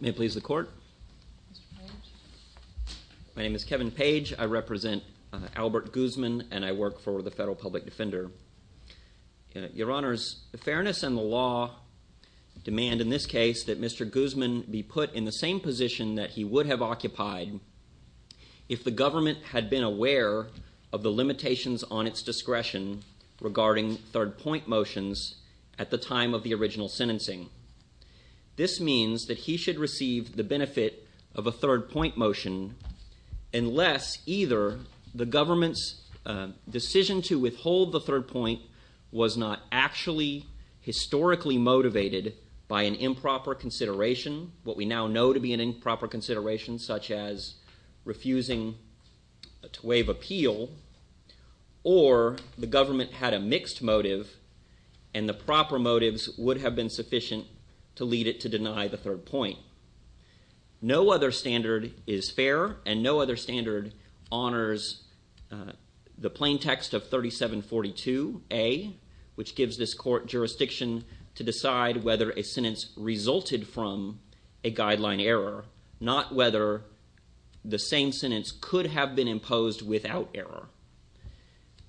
May it please the Court. My name is Kevin Page. I represent Albert Guzman and I work for the Federal Public Defender. Your Honors, the fairness and the law demand in this case that Mr. Guzman be put in the same position that he would have occupied if the government had been aware of the limitations on its discretion regarding third point motions at the time of the original sentencing. This means that he should receive the benefit of a third point motion unless either the government's decision to withhold the third point was not actually historically motivated by an improper consideration, what we now know to be an improper consideration such as refusing to waive appeal or the government had a mixed motive and the proper motives would have been sufficient to lead it to deny the third point. No other standard is fair and no other standard honors the plain text of 3742A which gives this court jurisdiction to decide whether a sentence resulted from a guideline error, not whether the same sentence could have been imposed without error.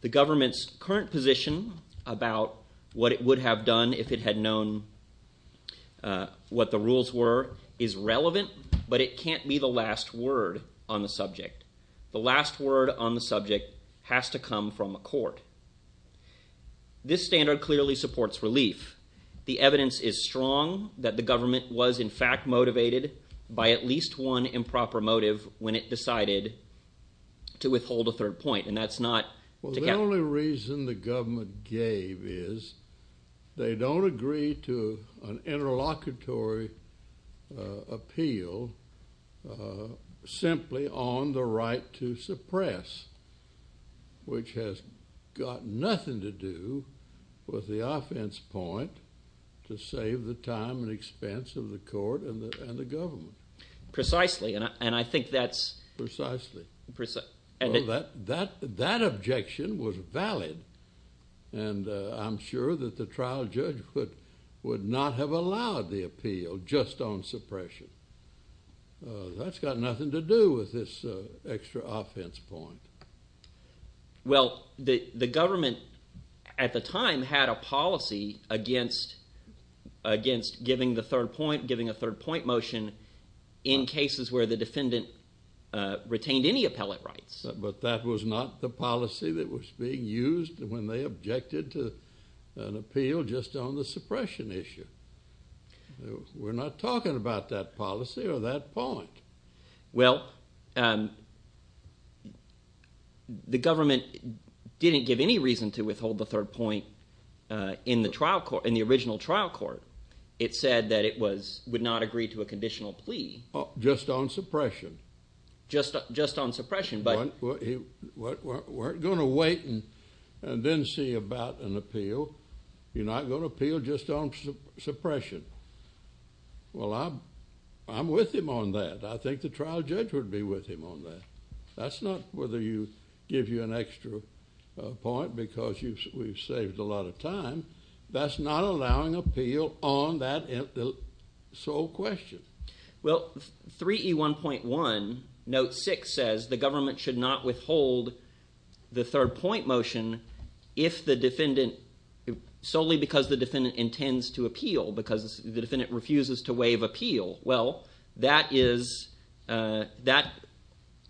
The government's current position about what it would have done if it had known what the rules were is relevant but it can't be the last word on the subject. The last word on the subject has to come from the court. This standard clearly supports relief. The evidence is strong that the government was in fact motivated by at least one improper motive when it decided to withhold a third point and that's not... The only reason the government gave is they don't agree to an interlocutory appeal simply on the right to suppress which has got nothing to do with the offense point to save the time and expense of the court and the government. Precisely and I think that's... Precisely. That objection was valid and I'm sure that the trial judge would not have allowed the appeal just on suppression. That's got nothing to do with this extra offense point. Well the government at the time had a policy against giving the third point, giving a third point motion in cases where the defendant retained any appellate rights. But that was not the policy that was being used when they objected to an appeal just on the suppression issue. We're not talking about that policy or that point. Well the government didn't give any reason to withhold the third point in the trial court... in the original trial court. It said that it was... would not agree to a conditional plea. Just on suppression. Just on about an appeal. You're not going to appeal just on suppression. Well I'm with him on that. I think the trial judge would be with him on that. That's not whether you give you an extra point because you've saved a lot of time. That's not allowing appeal on that sole question. Well 3E1.1 note 6 says the government should not withhold the third point motion if the defendant... solely because the defendant intends to appeal. Because the defendant refuses to waive appeal. Well that is... that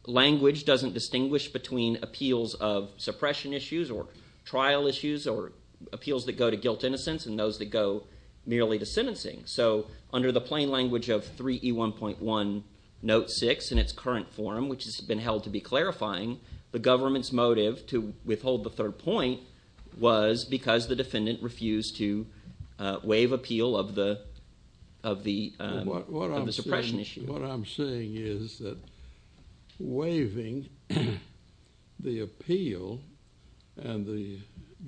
language doesn't distinguish between appeals of suppression issues or trial issues or appeals that go to guilt innocence and those that go merely to sentencing. So under the plain language of 3E1.1 note 6 in its current form, which has been held to be clarifying, the government's motive to withhold the third point was because the defendant refused to waive appeal of the... of the suppression issue. What I'm saying is that waiving the appeal and the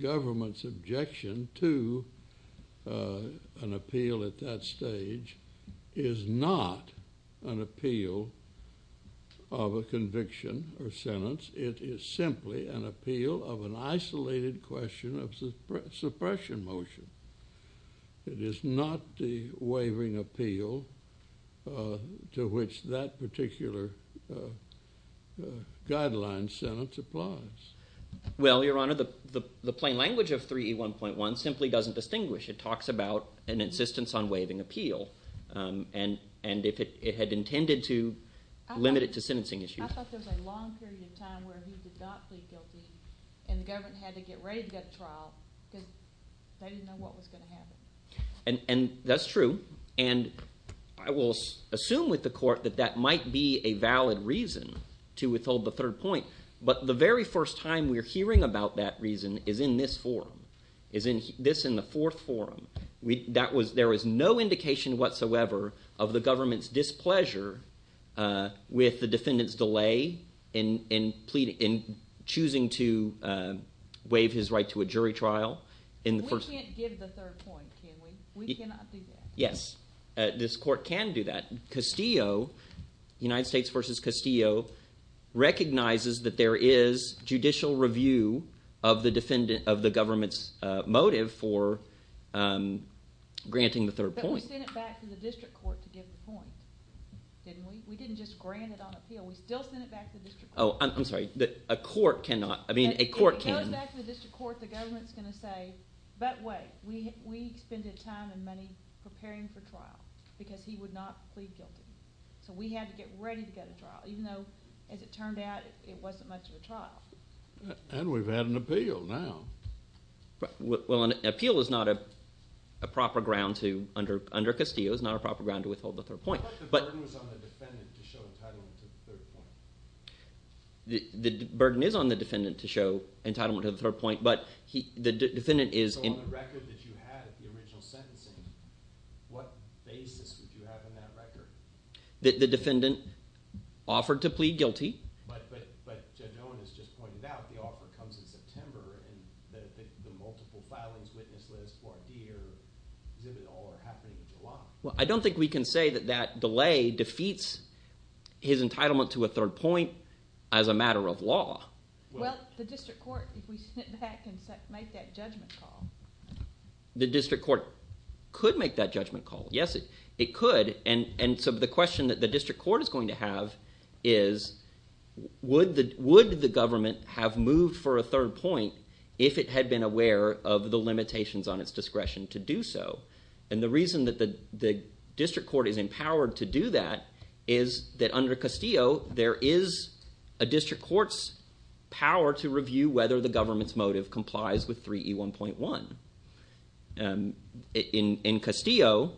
government's objection to an appeal at that level of a conviction or sentence, it is simply an appeal of an isolated question of suppression motion. It is not the waiving appeal to which that particular guideline sentence applies. Well Your Honor, the plain language of 3E1.1 simply doesn't distinguish. It talks about an insistence on limited to sentencing issues. I thought there was a long period of time where he did not plead guilty and the government had to get ready to go to trial because they didn't know what was going to happen. And that's true. And I will assume with the court that that might be a valid reason to withhold the third point. But the very first time we're hearing about that reason is in this forum. This in the fourth forum. There was no indication whatsoever of the government's displeasure with the defendant's delay in choosing to waive his right to a jury trial in the first... We can't give the third point, can we? We cannot do that. Yes, this court can do that. Castillo, United States v. Castillo recognizes that there is judicial review of the government's motive for granting the third point. But we sent it back to the district court to give the point, didn't we? We didn't just grant it on appeal. We still sent it back to the district court. Oh, I'm sorry. A court cannot. I mean, a court can. We sent it back to the district court. The government's going to say, but wait, we expended time and money preparing for trial because he would not plead guilty. So we had to get ready to go to trial even though, as it turned out, it wasn't much of a trial. And we've had an appeal now. Well, an appeal is not a proper ground to, under Castillo, is not a proper ground to withhold the third point. But the burden was on the defendant to show entitlement to the third point. The burden is on the defendant to show entitlement to the third point, but the defendant is… So on the record that you had at the original sentencing, what basis would you have in that record? The defendant offered to plead guilty. But Judge Owen has just pointed out the offer comes in September and that the multiple filings, witness list, or D or exhibit all are happening in July. Well, I don't think we can say that that delay defeats his entitlement to a third point as a matter of law. Well, the district court, if we sit back and make that judgment call… The district court could make that judgment call. Yes, it could. And so the question that the district court is going to have is would the government have moved for a third point if it had been aware of the limitations on its discretion to do so? And the reason that the district court is empowered to do that is that under Castillo, there is a district court's power to review whether the government's motive complies with 3E1.1. In Castillo,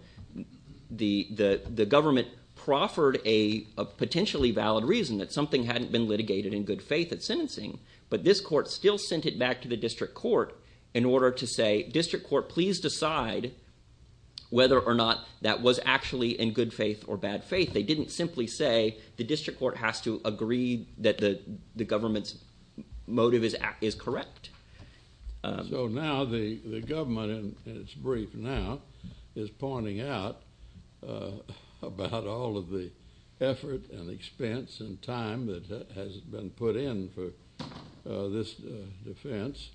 the government proffered a potentially valid reason that something hadn't been litigated in good faith at sentencing. But this court still sent it back to the district court in order to say, district court, please decide whether or not that was actually in good faith or bad faith. They didn't simply say the district court has to agree that the government's motive is correct. So now the government, in its brief now, is pointing out about all of the effort and expense and time that has been put in for this defense.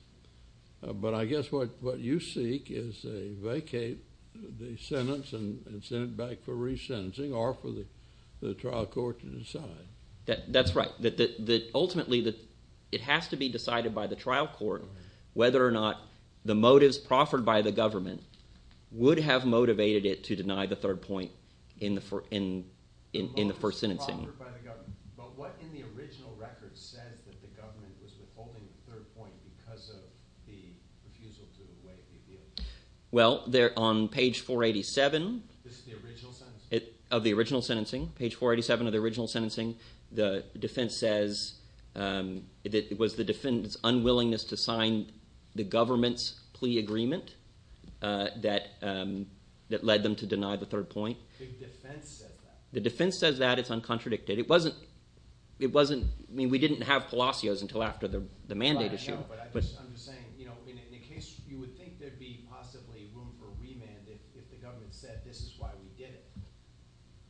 But I guess what you seek is a vacate the sentence and send it back for resentencing or for the trial court to decide. That's right. Ultimately, it has to be decided by the trial court whether or not the motives proffered by the government would have motivated it to deny the third point in the first sentencing. But what in the original record says that the government was withholding the third point because of the refusal to await the appeal? Well, on page 487 of the original sentencing, the defense says that it was the defense's unwillingness to sign the government's plea agreement that led them to deny the third point. The defense says that? The defense says that. It's uncontradicted. I mean, we didn't have Palacios until after the mandate issue. I know, but I'm just saying, in a case you would think there'd be possibly room for remand if the government said, this is why we did it,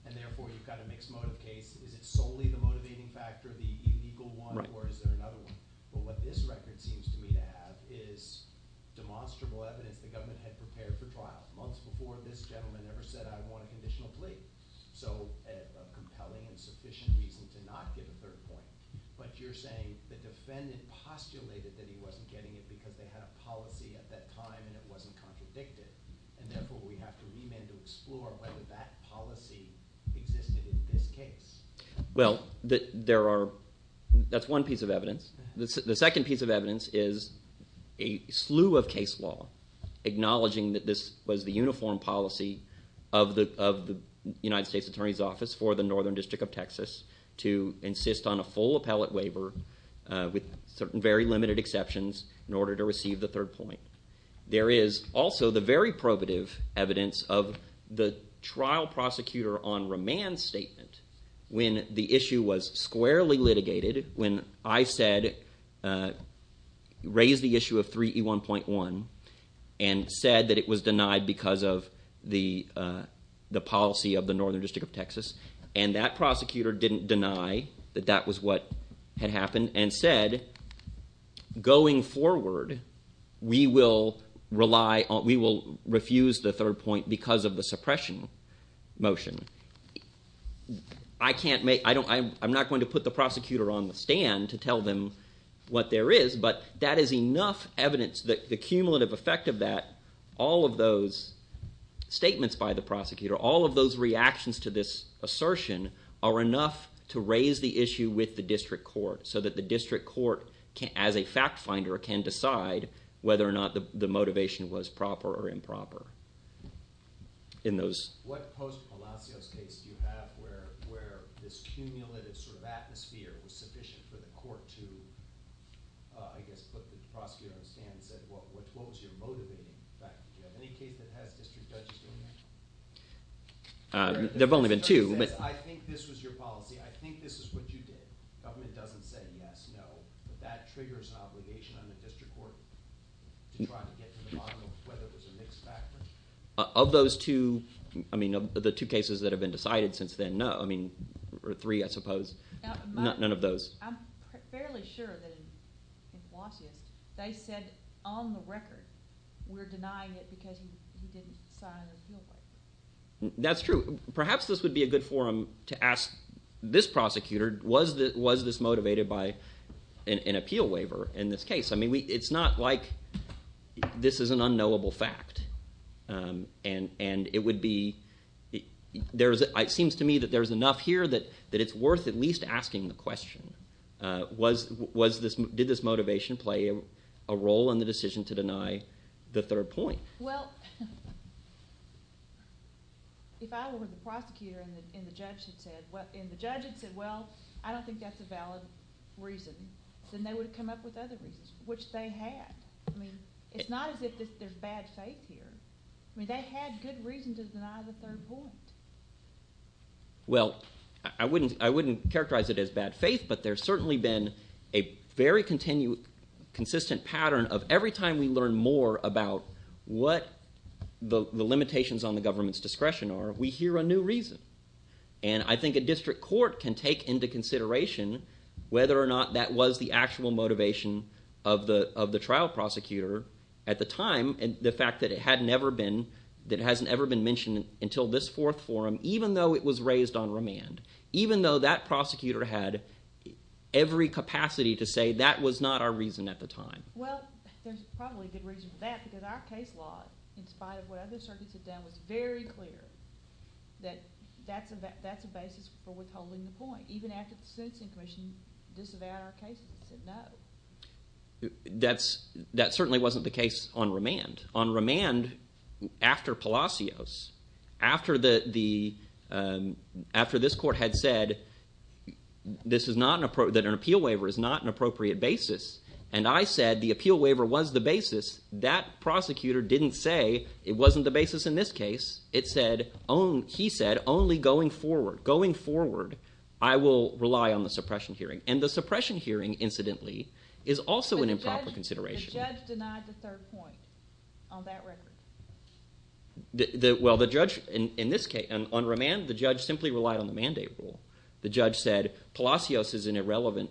and therefore you've got a mixed motive case. Is it solely the motivating factor, the illegal one, or is there another one? But what this record seems to me to have is demonstrable evidence the government had prepared for trial months before this gentleman ever said, I want a conditional plea. So a compelling and sufficient reason to not give a third point. But you're saying the defendant postulated that he wasn't getting it because they had a policy at that time and it wasn't contradicted, and therefore we have to remand to explore whether that policy existed in this case. Well, there are – that's one piece of evidence. The second piece of evidence is a slew of case law acknowledging that this was the uniform policy of the United States Attorney's Office for the Northern District of Texas to insist on a full appellate waiver with very limited exceptions in order to receive the third point. There is also the very probative evidence of the trial prosecutor on remand statement when the issue was squarely litigated, when I said – raised the issue of 3E1.1 and said that it was denied because of the policy of the Northern District of Texas. And that prosecutor didn't deny that that was what had happened and said, going forward, we will rely – we will refuse the third point because of the suppression motion. I can't make – I'm not going to put the prosecutor on the stand to tell them what there is, but that is enough evidence that the cumulative effect of that, all of those statements by the prosecutor, all of those reactions to this assertion are enough to raise the issue with the district court so that the district court, as a fact finder, can decide whether or not the motivation was proper or improper. In those – What post-Palacios case do you have where this cumulative sort of atmosphere was sufficient for the court to, I guess, put the prosecutor on the stand and said, what was your motivating factor? Do you have any case that has district judges doing that? There have only been two. He says, I think this was your policy. I think this is what you did. The government doesn't say yes, no, but that triggers an obligation on the district court to try to get to the bottom of whether it was a mixed factor. Of those two – I mean, of the two cases that have been decided since then, no – I mean, or three, I suppose, none of those. I'm fairly sure that in Blasius, they said, on the record, we're denying it because he didn't sign an appeal. That's true. Perhaps this would be a good forum to ask this prosecutor, was this motivated by an appeal waiver in this case? I mean, it's not like this is an unknowable fact, and it would be – it seems to me that there's enough here that it's worth at least asking the question. Did this motivation play a role in the decision to deny the third point? Well, if I were the prosecutor and the judge had said, well, I don't think that's a valid reason, then they would have come up with other reasons, which they had. I mean it's not as if there's bad faith here. I mean they had good reason to deny the third point. Well, I wouldn't characterize it as bad faith, but there's certainly been a very consistent pattern of every time we learn more about what the limitations on the government's discretion are, we hear a new reason. And I think a district court can take into consideration whether or not that was the actual motivation of the trial prosecutor at the time and the fact that it had never been – that it hasn't ever been mentioned until this fourth forum, even though it was raised on remand, even though that prosecutor had every capacity to say that was not our reason at the time. Well, there's probably a good reason for that because our case law, in spite of what other circuits have done, was very clear that that's a basis for withholding the point, even after the sentencing commission disavowed our case and said no. That certainly wasn't the case on remand. On remand, after Palacios, after this court had said that an appeal waiver is not an appropriate basis, and I said the appeal waiver was the basis, that prosecutor didn't say it wasn't the basis in this case. He said only going forward, going forward, I will rely on the suppression hearing. And the suppression hearing, incidentally, is also an improper consideration. The judge denied the third point on that record. Well, the judge in this case – on remand, the judge simply relied on the mandate rule. The judge said Palacios is an irrelevant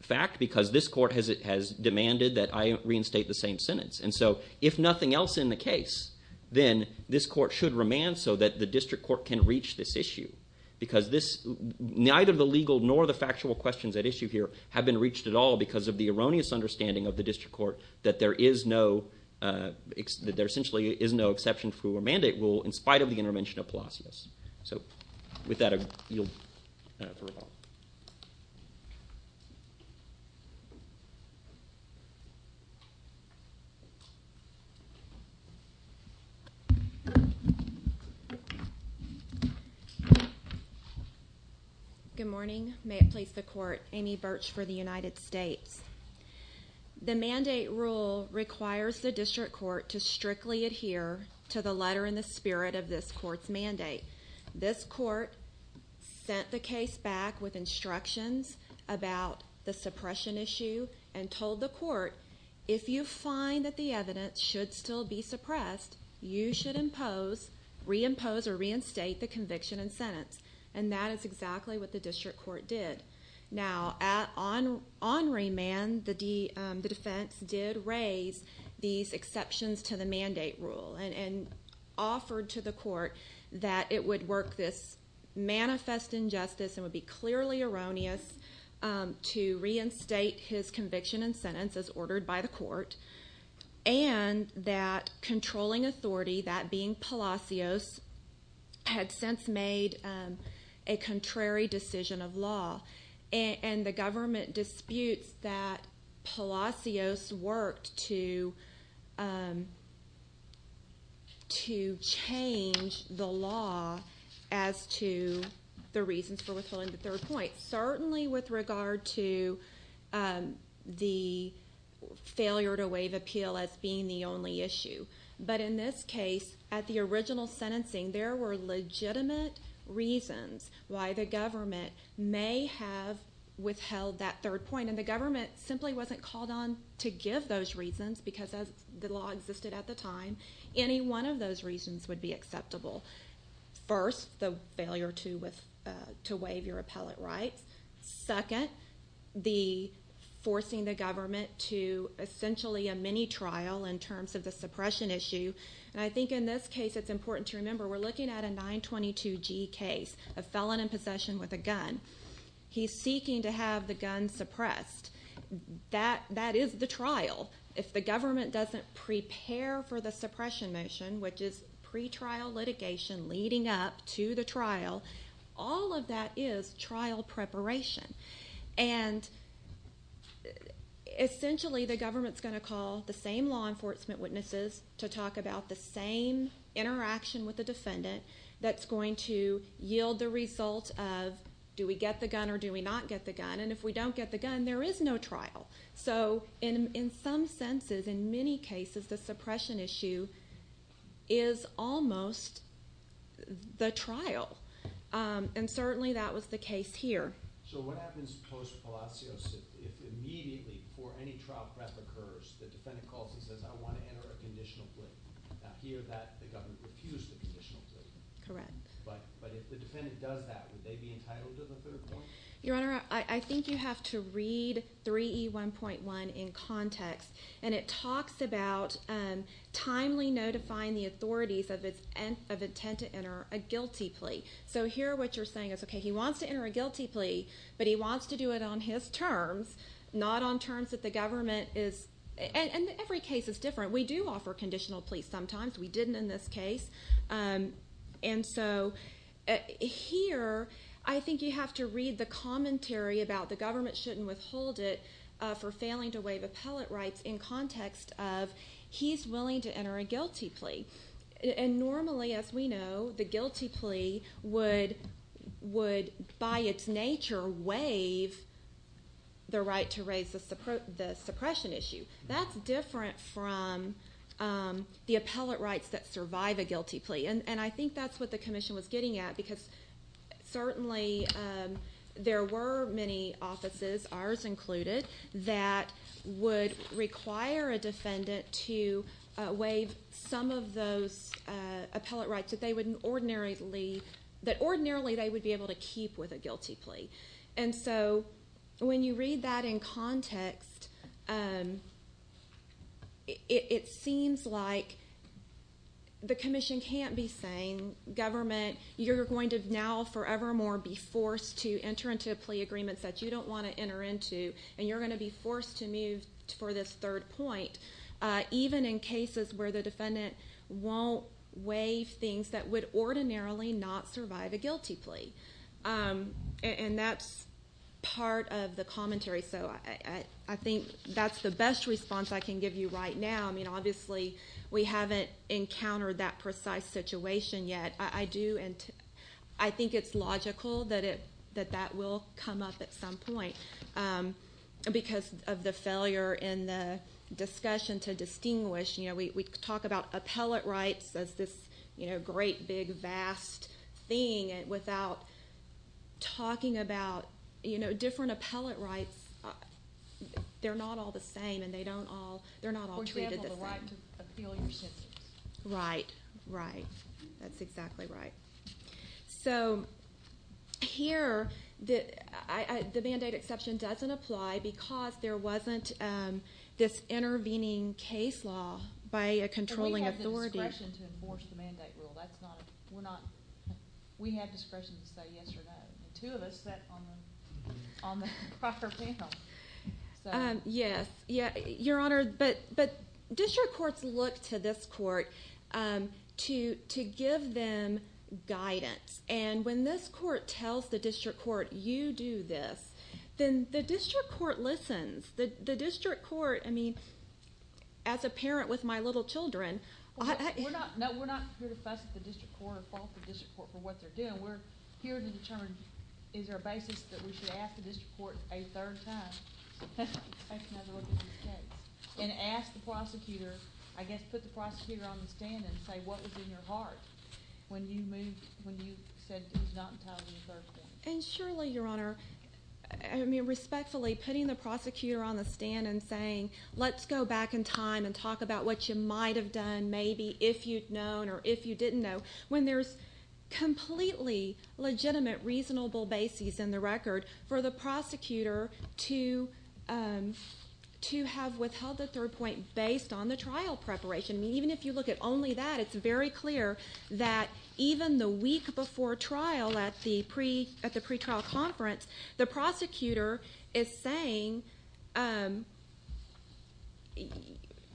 fact because this court has demanded that I reinstate the same sentence. And so if nothing else in the case, then this court should remand so that the district court can reach this issue because this – neither the legal nor the factual questions at issue here have been reached at all because of the erroneous understanding of the district court that there is no – that there essentially is no exception for a mandate rule in spite of the intervention of Palacios. So with that, I yield the rebuttal. Good morning. May it please the court, Amy Birch for the United States. The mandate rule requires the district court to strictly adhere to the letter in the spirit of this court's mandate. This court sent the case back with instructions about the suppression issue and told the court, if you find that the evidence should still be suppressed, you should impose – reimpose or reinstate the conviction and sentence. And that is exactly what the district court did. Now, on remand, the defense did raise these exceptions to the mandate rule and offered to the court that it would work this manifest injustice and would be clearly erroneous to reinstate his conviction and sentence as ordered by the court. And that controlling authority, that being Palacios, had since made a contrary decision of law. And the government disputes that Palacios worked to change the law as to the reasons for withholding the third point, certainly with regard to the failure to waive appeal as being the only issue. But in this case, at the original sentencing, there were legitimate reasons why the government may have withheld that third point. And the government simply wasn't called on to give those reasons because the law existed at the time. Any one of those reasons would be acceptable. First, the failure to waive your appellate rights. Second, the forcing the government to essentially a mini-trial in terms of the suppression issue. And I think in this case it's important to remember we're looking at a 922G case, a felon in possession with a gun. He's seeking to have the gun suppressed. That is the trial. If the government doesn't prepare for the suppression motion, which is pretrial litigation leading up to the trial, all of that is trial preparation. And essentially the government's going to call the same law enforcement witnesses to talk about the same interaction with the defendant that's going to yield the result of do we get the gun or do we not get the gun. And if we don't get the gun, there is no trial. So in some senses, in many cases, the suppression issue is almost the trial. And certainly that was the case here. So what happens post Palacios if immediately before any trial prep occurs the defendant calls and says I want to enter a conditional plea? Now here the government refused the conditional plea. Correct. But if the defendant does that, would they be entitled to the third point? Your Honor, I think you have to read 3E1.1 in context. And it talks about timely notifying the authorities of intent to enter a guilty plea. So here what you're saying is, okay, he wants to enter a guilty plea, but he wants to do it on his terms, not on terms that the government is ‑‑ and every case is different. We do offer conditional pleas sometimes. We didn't in this case. And so here I think you have to read the commentary about the government shouldn't withhold it for failing to waive appellate rights in context of he's willing to enter a guilty plea. And normally, as we know, the guilty plea would by its nature waive the right to raise the suppression issue. That's different from the appellate rights that survive a guilty plea. And I think that's what the commission was getting at because certainly there were many offices, ours included, that would require a defendant to waive some of those appellate rights that they would ordinarily ‑‑ that ordinarily they would be able to keep with a guilty plea. And so when you read that in context, it seems like the commission can't be saying government, you're going to now forevermore be forced to enter into a plea agreement that you don't want to enter into and you're going to be forced to move for this third point, even in cases where the defendant won't waive things that would ordinarily not survive a guilty plea. And that's part of the commentary. So I think that's the best response I can give you right now. I mean, obviously, we haven't encountered that precise situation yet. I do ‑‑ I think it's logical that that will come up at some point because of the failure in the discussion to distinguish. You know, we talk about appellate rights as this, you know, great, big, vast thing without talking about, you know, different appellate rights. They're not all the same and they don't all ‑‑ they're not all treated the same. For example, the right to appeal your sentence. Right, right. That's exactly right. So here, the mandate exception doesn't apply because there wasn't this intervening case law by a controlling authority. And we have the discretion to enforce the mandate rule. That's not a ‑‑ we're not ‑‑ we have discretion to say yes or no. The two of us sat on the proper panel. Yes. Your Honor, but district courts look to this court to give them guidance. And when this court tells the district court, you do this, then the district court listens. The district court, I mean, as a parent with my little children ‑‑ We're not here to fuss at the district court or fault the district court for what they're doing. No, we're here to determine is there a basis that we should ask the district court a third time and ask the prosecutor, I guess put the prosecutor on the stand and say what was in your heart when you moved, when you said it was not entirely a third thing. And surely, Your Honor, I mean, respectfully, putting the prosecutor on the stand and saying, let's go back in time and talk about what you might have done maybe if you'd known or if you didn't know, when there's completely legitimate, reasonable basis in the record for the prosecutor to have withheld a third point based on the trial preparation. I mean, even if you look at only that, it's very clear that even the week before trial at the pretrial conference, the prosecutor is saying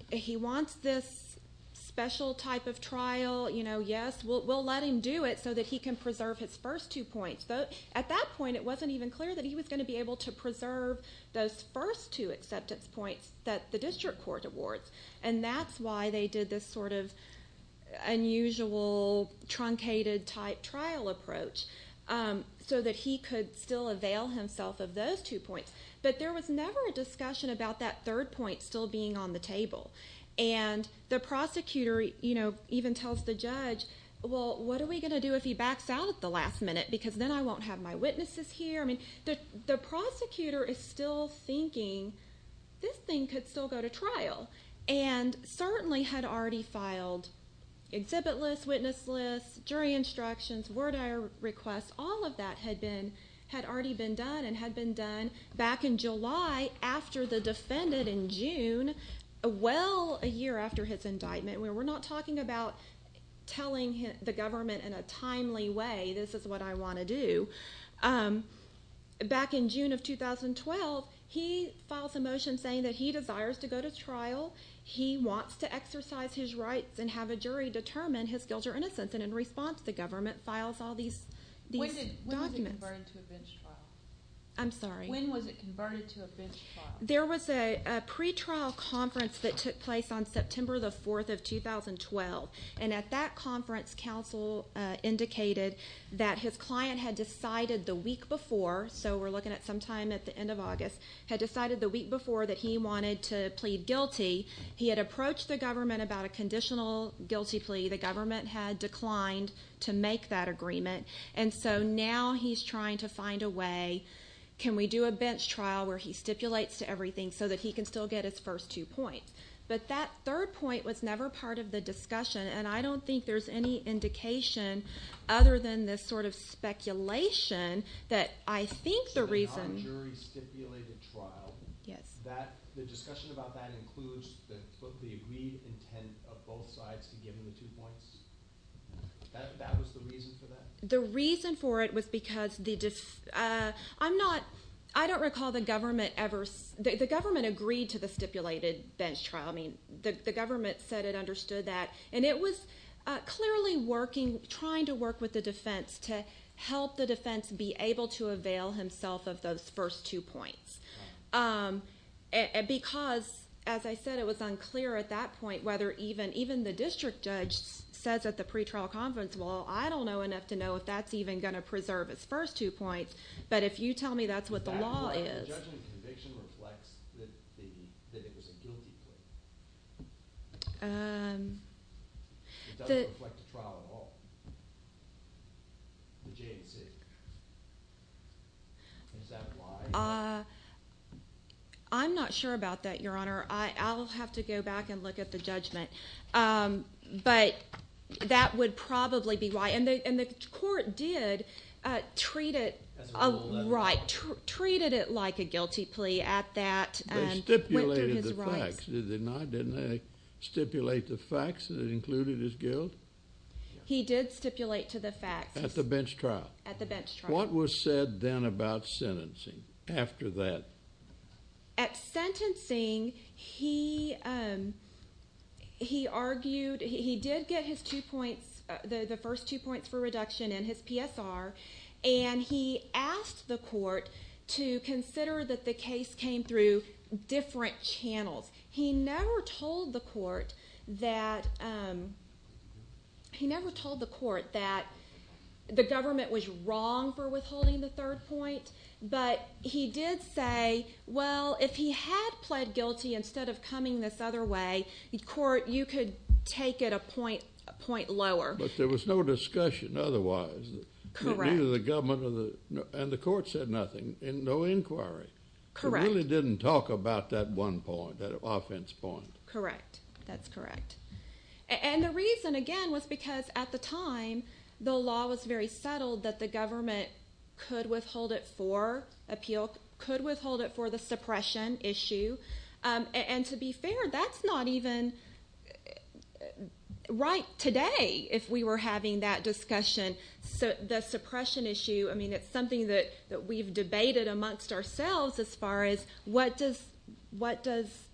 he wants this special type of trial, you know, yes, we'll let him do it so that he can preserve his first two points. At that point, it wasn't even clear that he was going to be able to preserve those first two acceptance points that the district court awards, and that's why they did this sort of unusual truncated type trial approach so that he could still avail himself of those two points. But there was never a discussion about that third point still being on the table. And the prosecutor, you know, even tells the judge, well, what are we going to do if he backs out at the last minute because then I won't have my witnesses here? I mean, the prosecutor is still thinking this thing could still go to trial and certainly had already filed exhibit list, witness list, jury instructions, word of request. All of that had already been done and had been done back in July after the defendant in June, well a year after his indictment. We're not talking about telling the government in a timely way, this is what I want to do. Back in June of 2012, he files a motion saying that he desires to go to trial. He wants to exercise his rights and have a jury determine his guilt or innocence. And in response, the government files all these documents. When was it converted to a bench trial? I'm sorry? When was it converted to a bench trial? There was a pretrial conference that took place on September the 4th of 2012. And at that conference, counsel indicated that his client had decided the week before, so we're looking at sometime at the end of August, had decided the week before that he wanted to plead guilty. He had approached the government about a conditional guilty plea. The government had declined to make that agreement. And so now he's trying to find a way, can we do a bench trial where he stipulates to everything so that he can still get his first two points. But that third point was never part of the discussion, and I don't think there's any indication other than this sort of speculation that I think the reason... So the non-jury stipulated trial. Yes. The discussion about that includes the agreed intent of both sides to give him the two points. That was the reason for that? The reason for it was because the... I don't recall the government ever... The government agreed to the stipulated bench trial. I mean, the government said it understood that. And it was clearly trying to work with the defense to help the defense be able to avail himself of those first two points. Because, as I said, it was unclear at that point whether even the district judge says at the pretrial conference, well, I don't know enough to know if that's even going to preserve his first two points. But if you tell me that's what the law is... The judgment conviction reflects that it was a guilty plea. It doesn't reflect the trial at all. The J&C. Is that why? I'm not sure about that, Your Honor. I'll have to go back and look at the judgment. But that would probably be why. And the court did treat it like a guilty plea at that. They stipulated the facts. Did they not? Didn't they stipulate the facts that included his guilt? He did stipulate to the facts. At the bench trial. At the bench trial. What was said then about sentencing after that? At sentencing, he argued he did get his two points, the first two points for reduction in his PSR, and he asked the court to consider that the case came through different channels. He never told the court that the government was wrong for withholding the third point, but he did say, well, if he had pled guilty instead of coming this other way, the court, you could take it a point lower. But there was no discussion otherwise. Correct. Neither the government and the court said nothing. No inquiry. Correct. They really didn't talk about that one point, that offense point. Correct. That's correct. And the reason, again, was because at the time, the law was very settled that the government could withhold it for appeal, could withhold it for the suppression issue. And to be fair, that's not even right today if we were having that discussion. The suppression issue, I mean, it's something that we've debated amongst ourselves as far as what does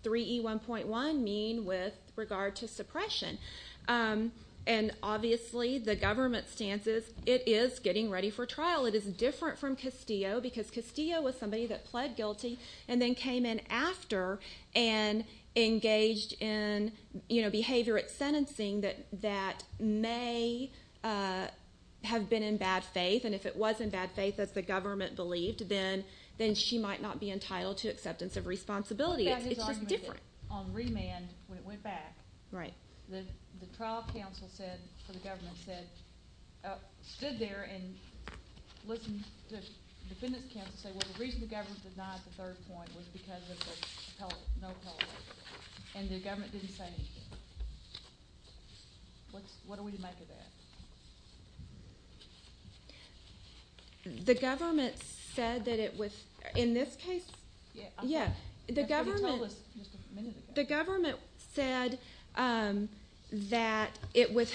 3E1.1 mean with regard to suppression. And obviously, the government's stance is it is getting ready for trial. It is different from Castillo because Castillo was somebody that pled guilty and then came in after and engaged in, you know, behavior at sentencing that may have been in bad faith. And if it was in bad faith, as the government believed, then she might not be entitled to acceptance of responsibility. It's just different. On remand, when it went back, the trial counsel said, or the government said, stood there and listened to the defendant's counsel say, well, the reason the government denied the third point was because of no appellate. And the government didn't say anything. What are we to make of that? The government said that it was, in this case, yeah. That's what he told us just a minute ago. The government said that it would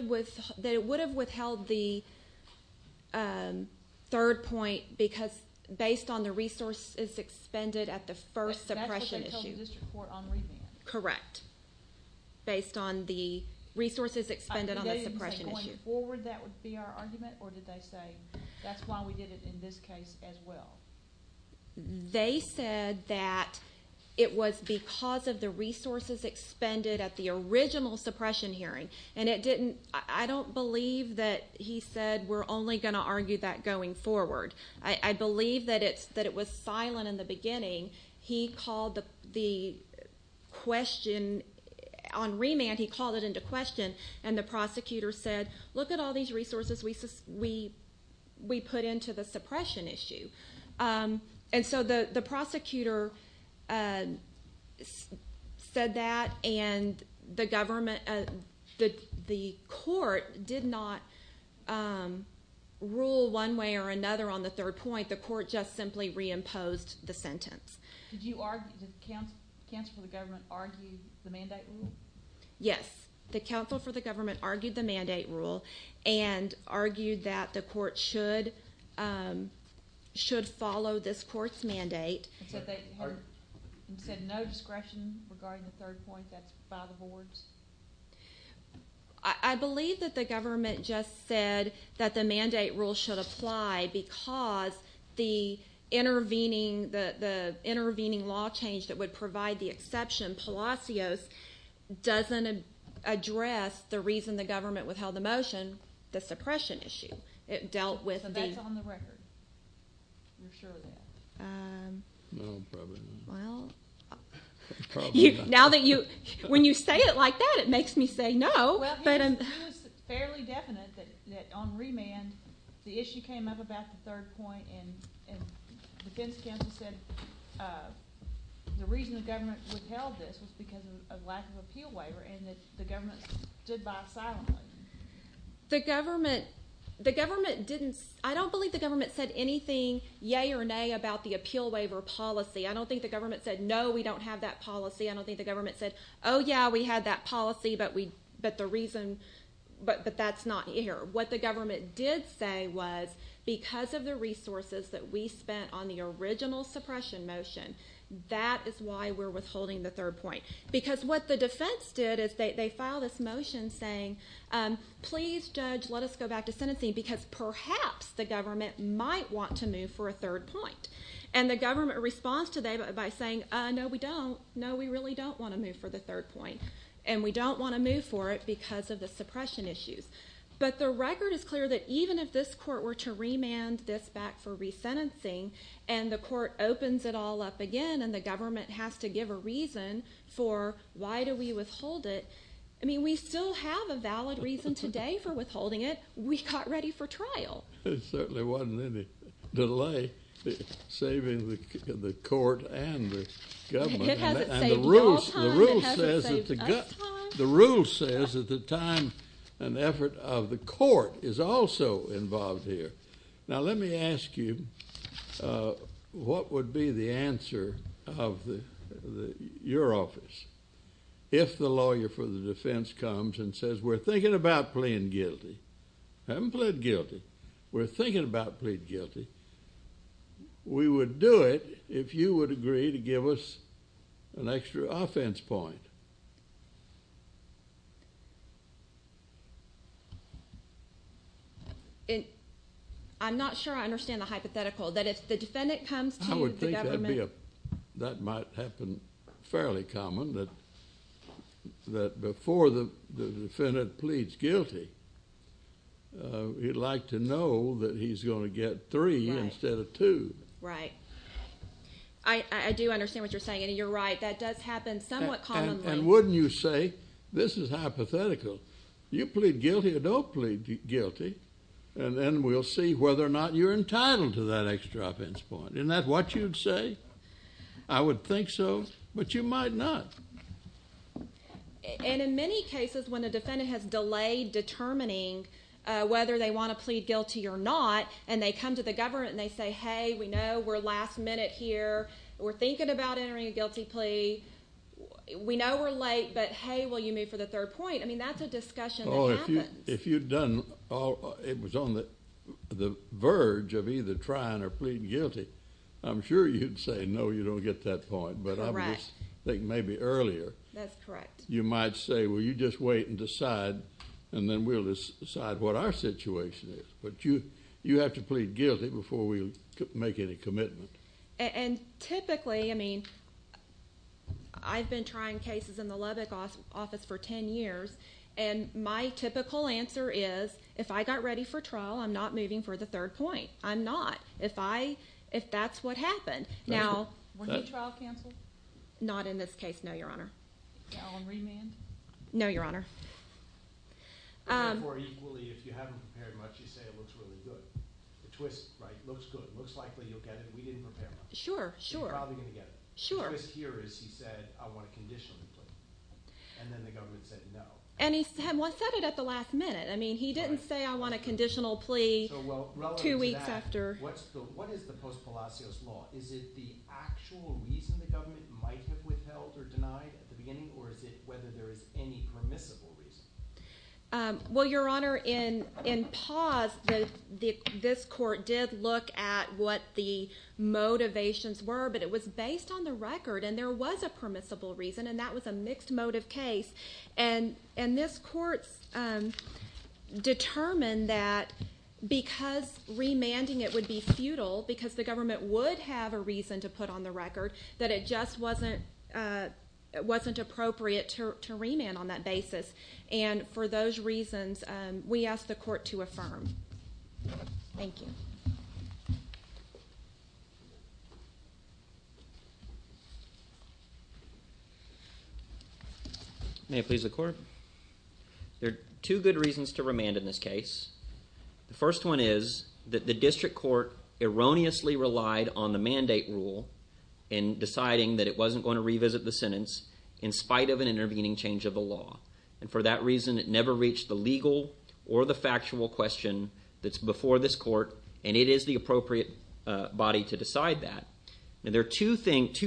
have withheld the third point because based on the resources expended at the first suppression issue. That's what they told the district court on remand. Correct. Based on the resources expended on the suppression issue. Did they say going forward that would be our argument, or did they say that's why we did it in this case as well? They said that it was because of the resources expended at the original suppression hearing. And it didn't, I don't believe that he said we're only going to argue that going forward. I believe that it was silent in the beginning. He called the question, on remand he called it into question, and the prosecutor said, look at all these resources we put into the suppression issue. And so the prosecutor said that, and the court did not rule one way or another on the third point. The court just simply reimposed the sentence. Did the counsel for the government argue the mandate rule? Yes. The counsel for the government argued the mandate rule and argued that the court should follow this court's mandate. So they said no discretion regarding the third point, that's by the boards? I believe that the government just said that the mandate rule should apply because the intervening law change that would provide the exception, Palacios, doesn't address the reason the government withheld the motion, the suppression issue. So that's on the record. You're sure of that? No, probably not. Well, now that you, when you say it like that it makes me say no. Well, he was fairly definite that on remand the issue came up about the third point and the defense counsel said the reason the government withheld this was because of lack of appeal waiver and that the government stood by silently. The government didn't, I don't believe the government said anything, yay or nay, about the appeal waiver policy. I don't think the government said, no, we don't have that policy. I don't think the government said, oh, yeah, we had that policy, but the reason, but that's not here. What the government did say was because of the resources that we spent on the original suppression motion, that is why we're withholding the third point. Because what the defense did is they filed this motion saying, please, judge, let us go back to sentencing because perhaps the government might want to move for a third point. And the government responds to that by saying, no, we don't. No, we really don't want to move for the third point. And we don't want to move for it because of the suppression issues. But the record is clear that even if this court were to remand this back for resentencing and the court opens it all up again and the government has to give a reason for why do we withhold it, I mean, we still have a valid reason today for withholding it. We got ready for trial. There certainly wasn't any delay saving the court and the government. It hasn't saved you all time. It hasn't saved us time. The rule says that the time and effort of the court is also involved here. Now, let me ask you what would be the answer of your office if the lawyer for the defense comes and says we're thinking about pleading guilty. I haven't plead guilty. We're thinking about pleading guilty. We would do it if you would agree to give us an extra offense point. I'm not sure I understand the hypothetical that if the defendant comes to the government. I would think that might happen fairly common that before the defendant pleads guilty, he'd like to know that he's going to get three instead of two. Right. I do understand what you're saying and you're right. That does happen somewhat commonly. And wouldn't you say this is hypothetical. You plead guilty or don't plead guilty and then we'll see whether or not you're entitled to that extra offense point. Isn't that what you'd say? I would think so, but you might not. And in many cases when the defendant has delayed determining whether they want to plead guilty or not and they come to the government and they say, hey, we know we're last minute here. We're thinking about entering a guilty plea. We know we're late, but hey, will you move for the third point? I mean, that's a discussion that happens. If you'd done it was on the verge of either trying or pleading guilty, I'm sure you'd say, no, you don't get that point. But I would just think maybe earlier you might say, well, you just wait and decide and then we'll decide what our situation is. But you have to plead guilty before we make any commitment. And typically, I mean, I've been trying cases in the Lubbock office for ten years and my typical answer is if I got ready for trial, I'm not moving for the third point. I'm not if that's what happened. Weren't you trial canceled? Not in this case, no, Your Honor. On remand? No, Your Honor. Therefore, equally, if you haven't prepared much, you say it looks really good. The twist, right, looks good, looks likely you'll get it. We didn't prepare much. Sure, sure. You're probably going to get it. The twist here is he said, I want a conditional plea. And then the government said no. And he said it at the last minute. I mean, he didn't say I want a conditional plea two weeks after. What is the post-Palacios law? Is it the actual reason the government might have withheld or denied at the beginning, or is it whether there is any permissible reason? Well, Your Honor, in pause, this court did look at what the motivations were, but it was based on the record, and there was a permissible reason, and that was a mixed motive case. And this court determined that because remanding it would be futile, because the government would have a reason to put on the record, that it just wasn't appropriate to remand on that basis. And for those reasons, we asked the court to affirm. Thank you. May it please the Court. There are two good reasons to remand in this case. The first one is that the district court erroneously relied on the mandate rule in deciding that it wasn't going to revisit the sentence in spite of an intervening change of the law. And for that reason, it never reached the legal or the factual question that's before this court, and it is the appropriate body to decide that. Now, there are two facts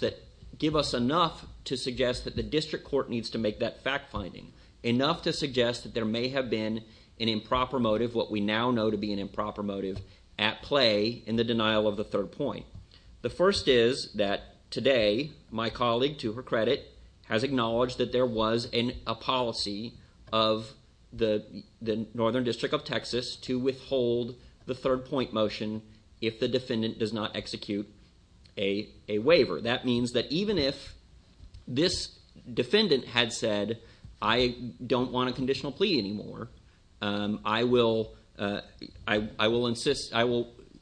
that give us enough to suggest that the district court needs to make that fact-finding, enough to suggest that there may have been an improper motive, what we now know to be an improper motive, at play in the denial of the third point. The first is that today, my colleague, to her credit, has acknowledged that there was a policy of the Northern District of Texas to withhold the third point motion if the defendant does not execute a waiver. That means that even if this defendant had said, I don't want a conditional plea anymore, I will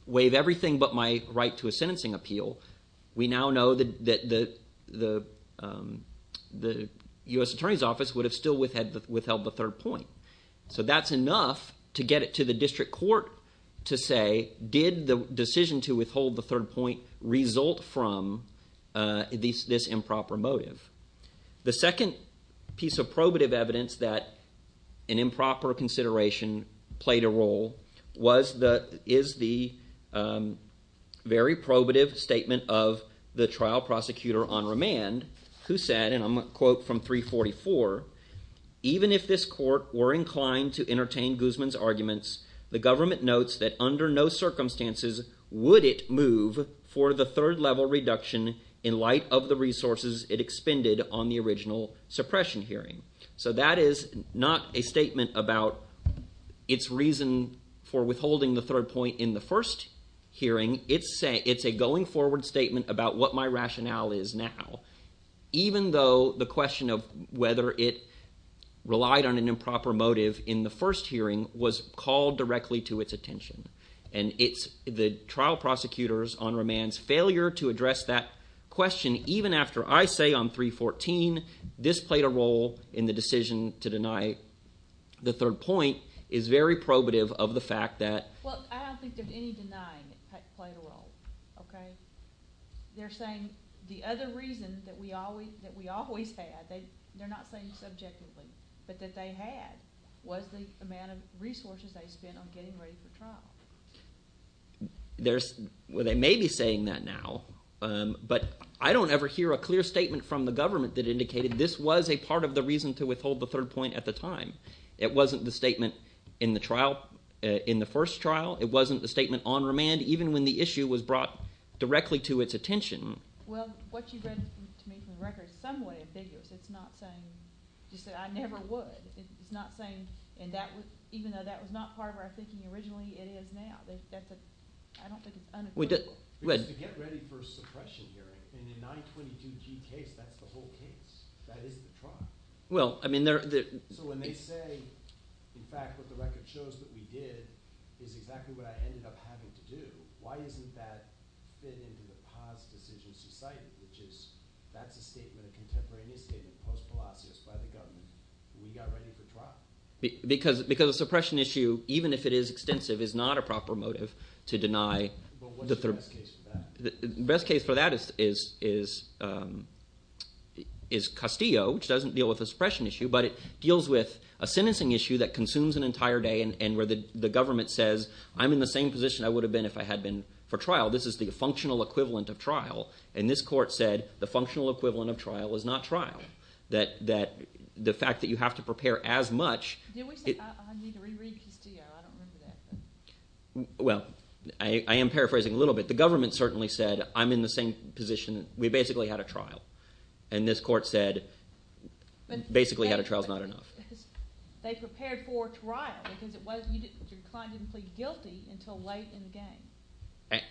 waive everything but my right to a sentencing appeal, we now know that the U.S. Attorney's Office would have still withheld the third point. So that's enough to get it to the district court to say, did the decision to withhold the third point result from this improper motive? The second piece of probative evidence that an improper consideration played a role is the very probative statement of the trial prosecutor on remand who said, and I'm going to quote from 344, even if this court were inclined to entertain Guzman's arguments, the government notes that under no circumstances would it move for the third level reduction in light of the resources it expended on the original suppression hearing. So that is not a statement about its reason for withholding the third point in the first hearing. It's a going forward statement about what my rationale is now. Even though the question of whether it relied on an improper motive in the first hearing was called directly to its attention, and it's the trial prosecutor's on remand's failure to address that question even after I say on 314 this played a role in the decision to deny the third point is very probative of the fact that… Well, I don't think there's any denying it played a role. They're saying the other reason that we always had, they're not saying subjectively, but that they had was the amount of resources they spent on getting ready for trial. They may be saying that now, but I don't ever hear a clear statement from the government that indicated this was a part of the reason to withhold the third point at the time. It wasn't the statement in the trial, in the first trial. It wasn't the statement on remand, even when the issue was brought directly to its attention. Well, what you read to me from the record is somewhat ambiguous. It's not saying just that I never would. It's not saying even though that was not part of our thinking originally, it is now. I don't think it's unequivocal. It's to get ready for a suppression hearing, and in the 922G case, that's the whole case. That is the trial. So when they say, in fact, what the record shows that we did is exactly what I ended up having to do, why doesn't that fit into the Paz decision society, which is that's a statement, a contemporaneous statement post-Palacios by the government. We got ready for trial. Because a suppression issue, even if it is extensive, is not a proper motive to deny the third point. What's the best case for that? That is Castillo, which doesn't deal with a suppression issue, but it deals with a sentencing issue that consumes an entire day and where the government says, I'm in the same position I would have been if I had been for trial. This is the functional equivalent of trial. And this court said the functional equivalent of trial is not trial, that the fact that you have to prepare as much. Didn't we say I need to reread Castillo? I don't remember that. Well, I am paraphrasing a little bit. But the government certainly said I'm in the same position, we basically had a trial. And this court said basically had a trial is not enough. They prepared for trial because your client didn't plead guilty until late in the game.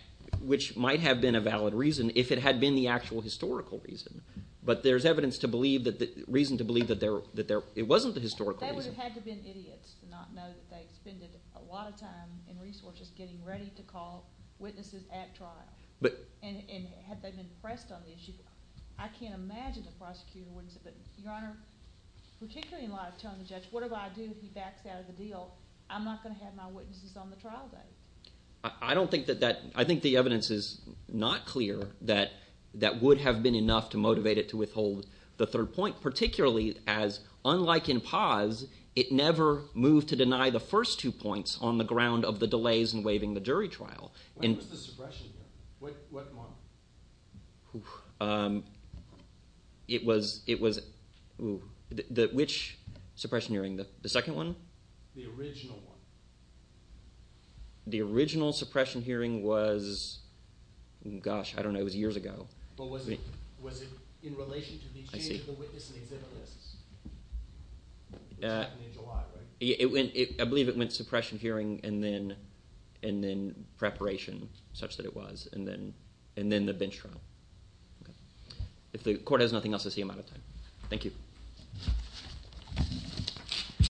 Which might have been a valid reason if it had been the actual historical reason. But there's evidence to believe, reason to believe that it wasn't the historical reason. They would have had to have been idiots to not know that they had spent a lot of time and resources getting ready to call witnesses at trial. And had they been pressed on the issue, I can't imagine the prosecutor wouldn't have said, but Your Honor, particularly in light of telling the judge whatever I do if he backs out of the deal, I'm not going to have my witnesses on the trial date. I don't think that that – I think the evidence is not clear that that would have been enough to motivate it to withhold the third point, particularly as unlike in Paz, it never moved to deny the first two points on the ground of the delays in waiving the jury trial. What was the suppression hearing? What month? It was – which suppression hearing? The second one? The original one. The original suppression hearing was – gosh, I don't know, it was years ago. But was it in relation to the change of the witness and exhibit lists? I believe it went to suppression hearing and then preparation such that it was, and then the bench trial. If the court has nothing else to say, I'm out of time. Thank you.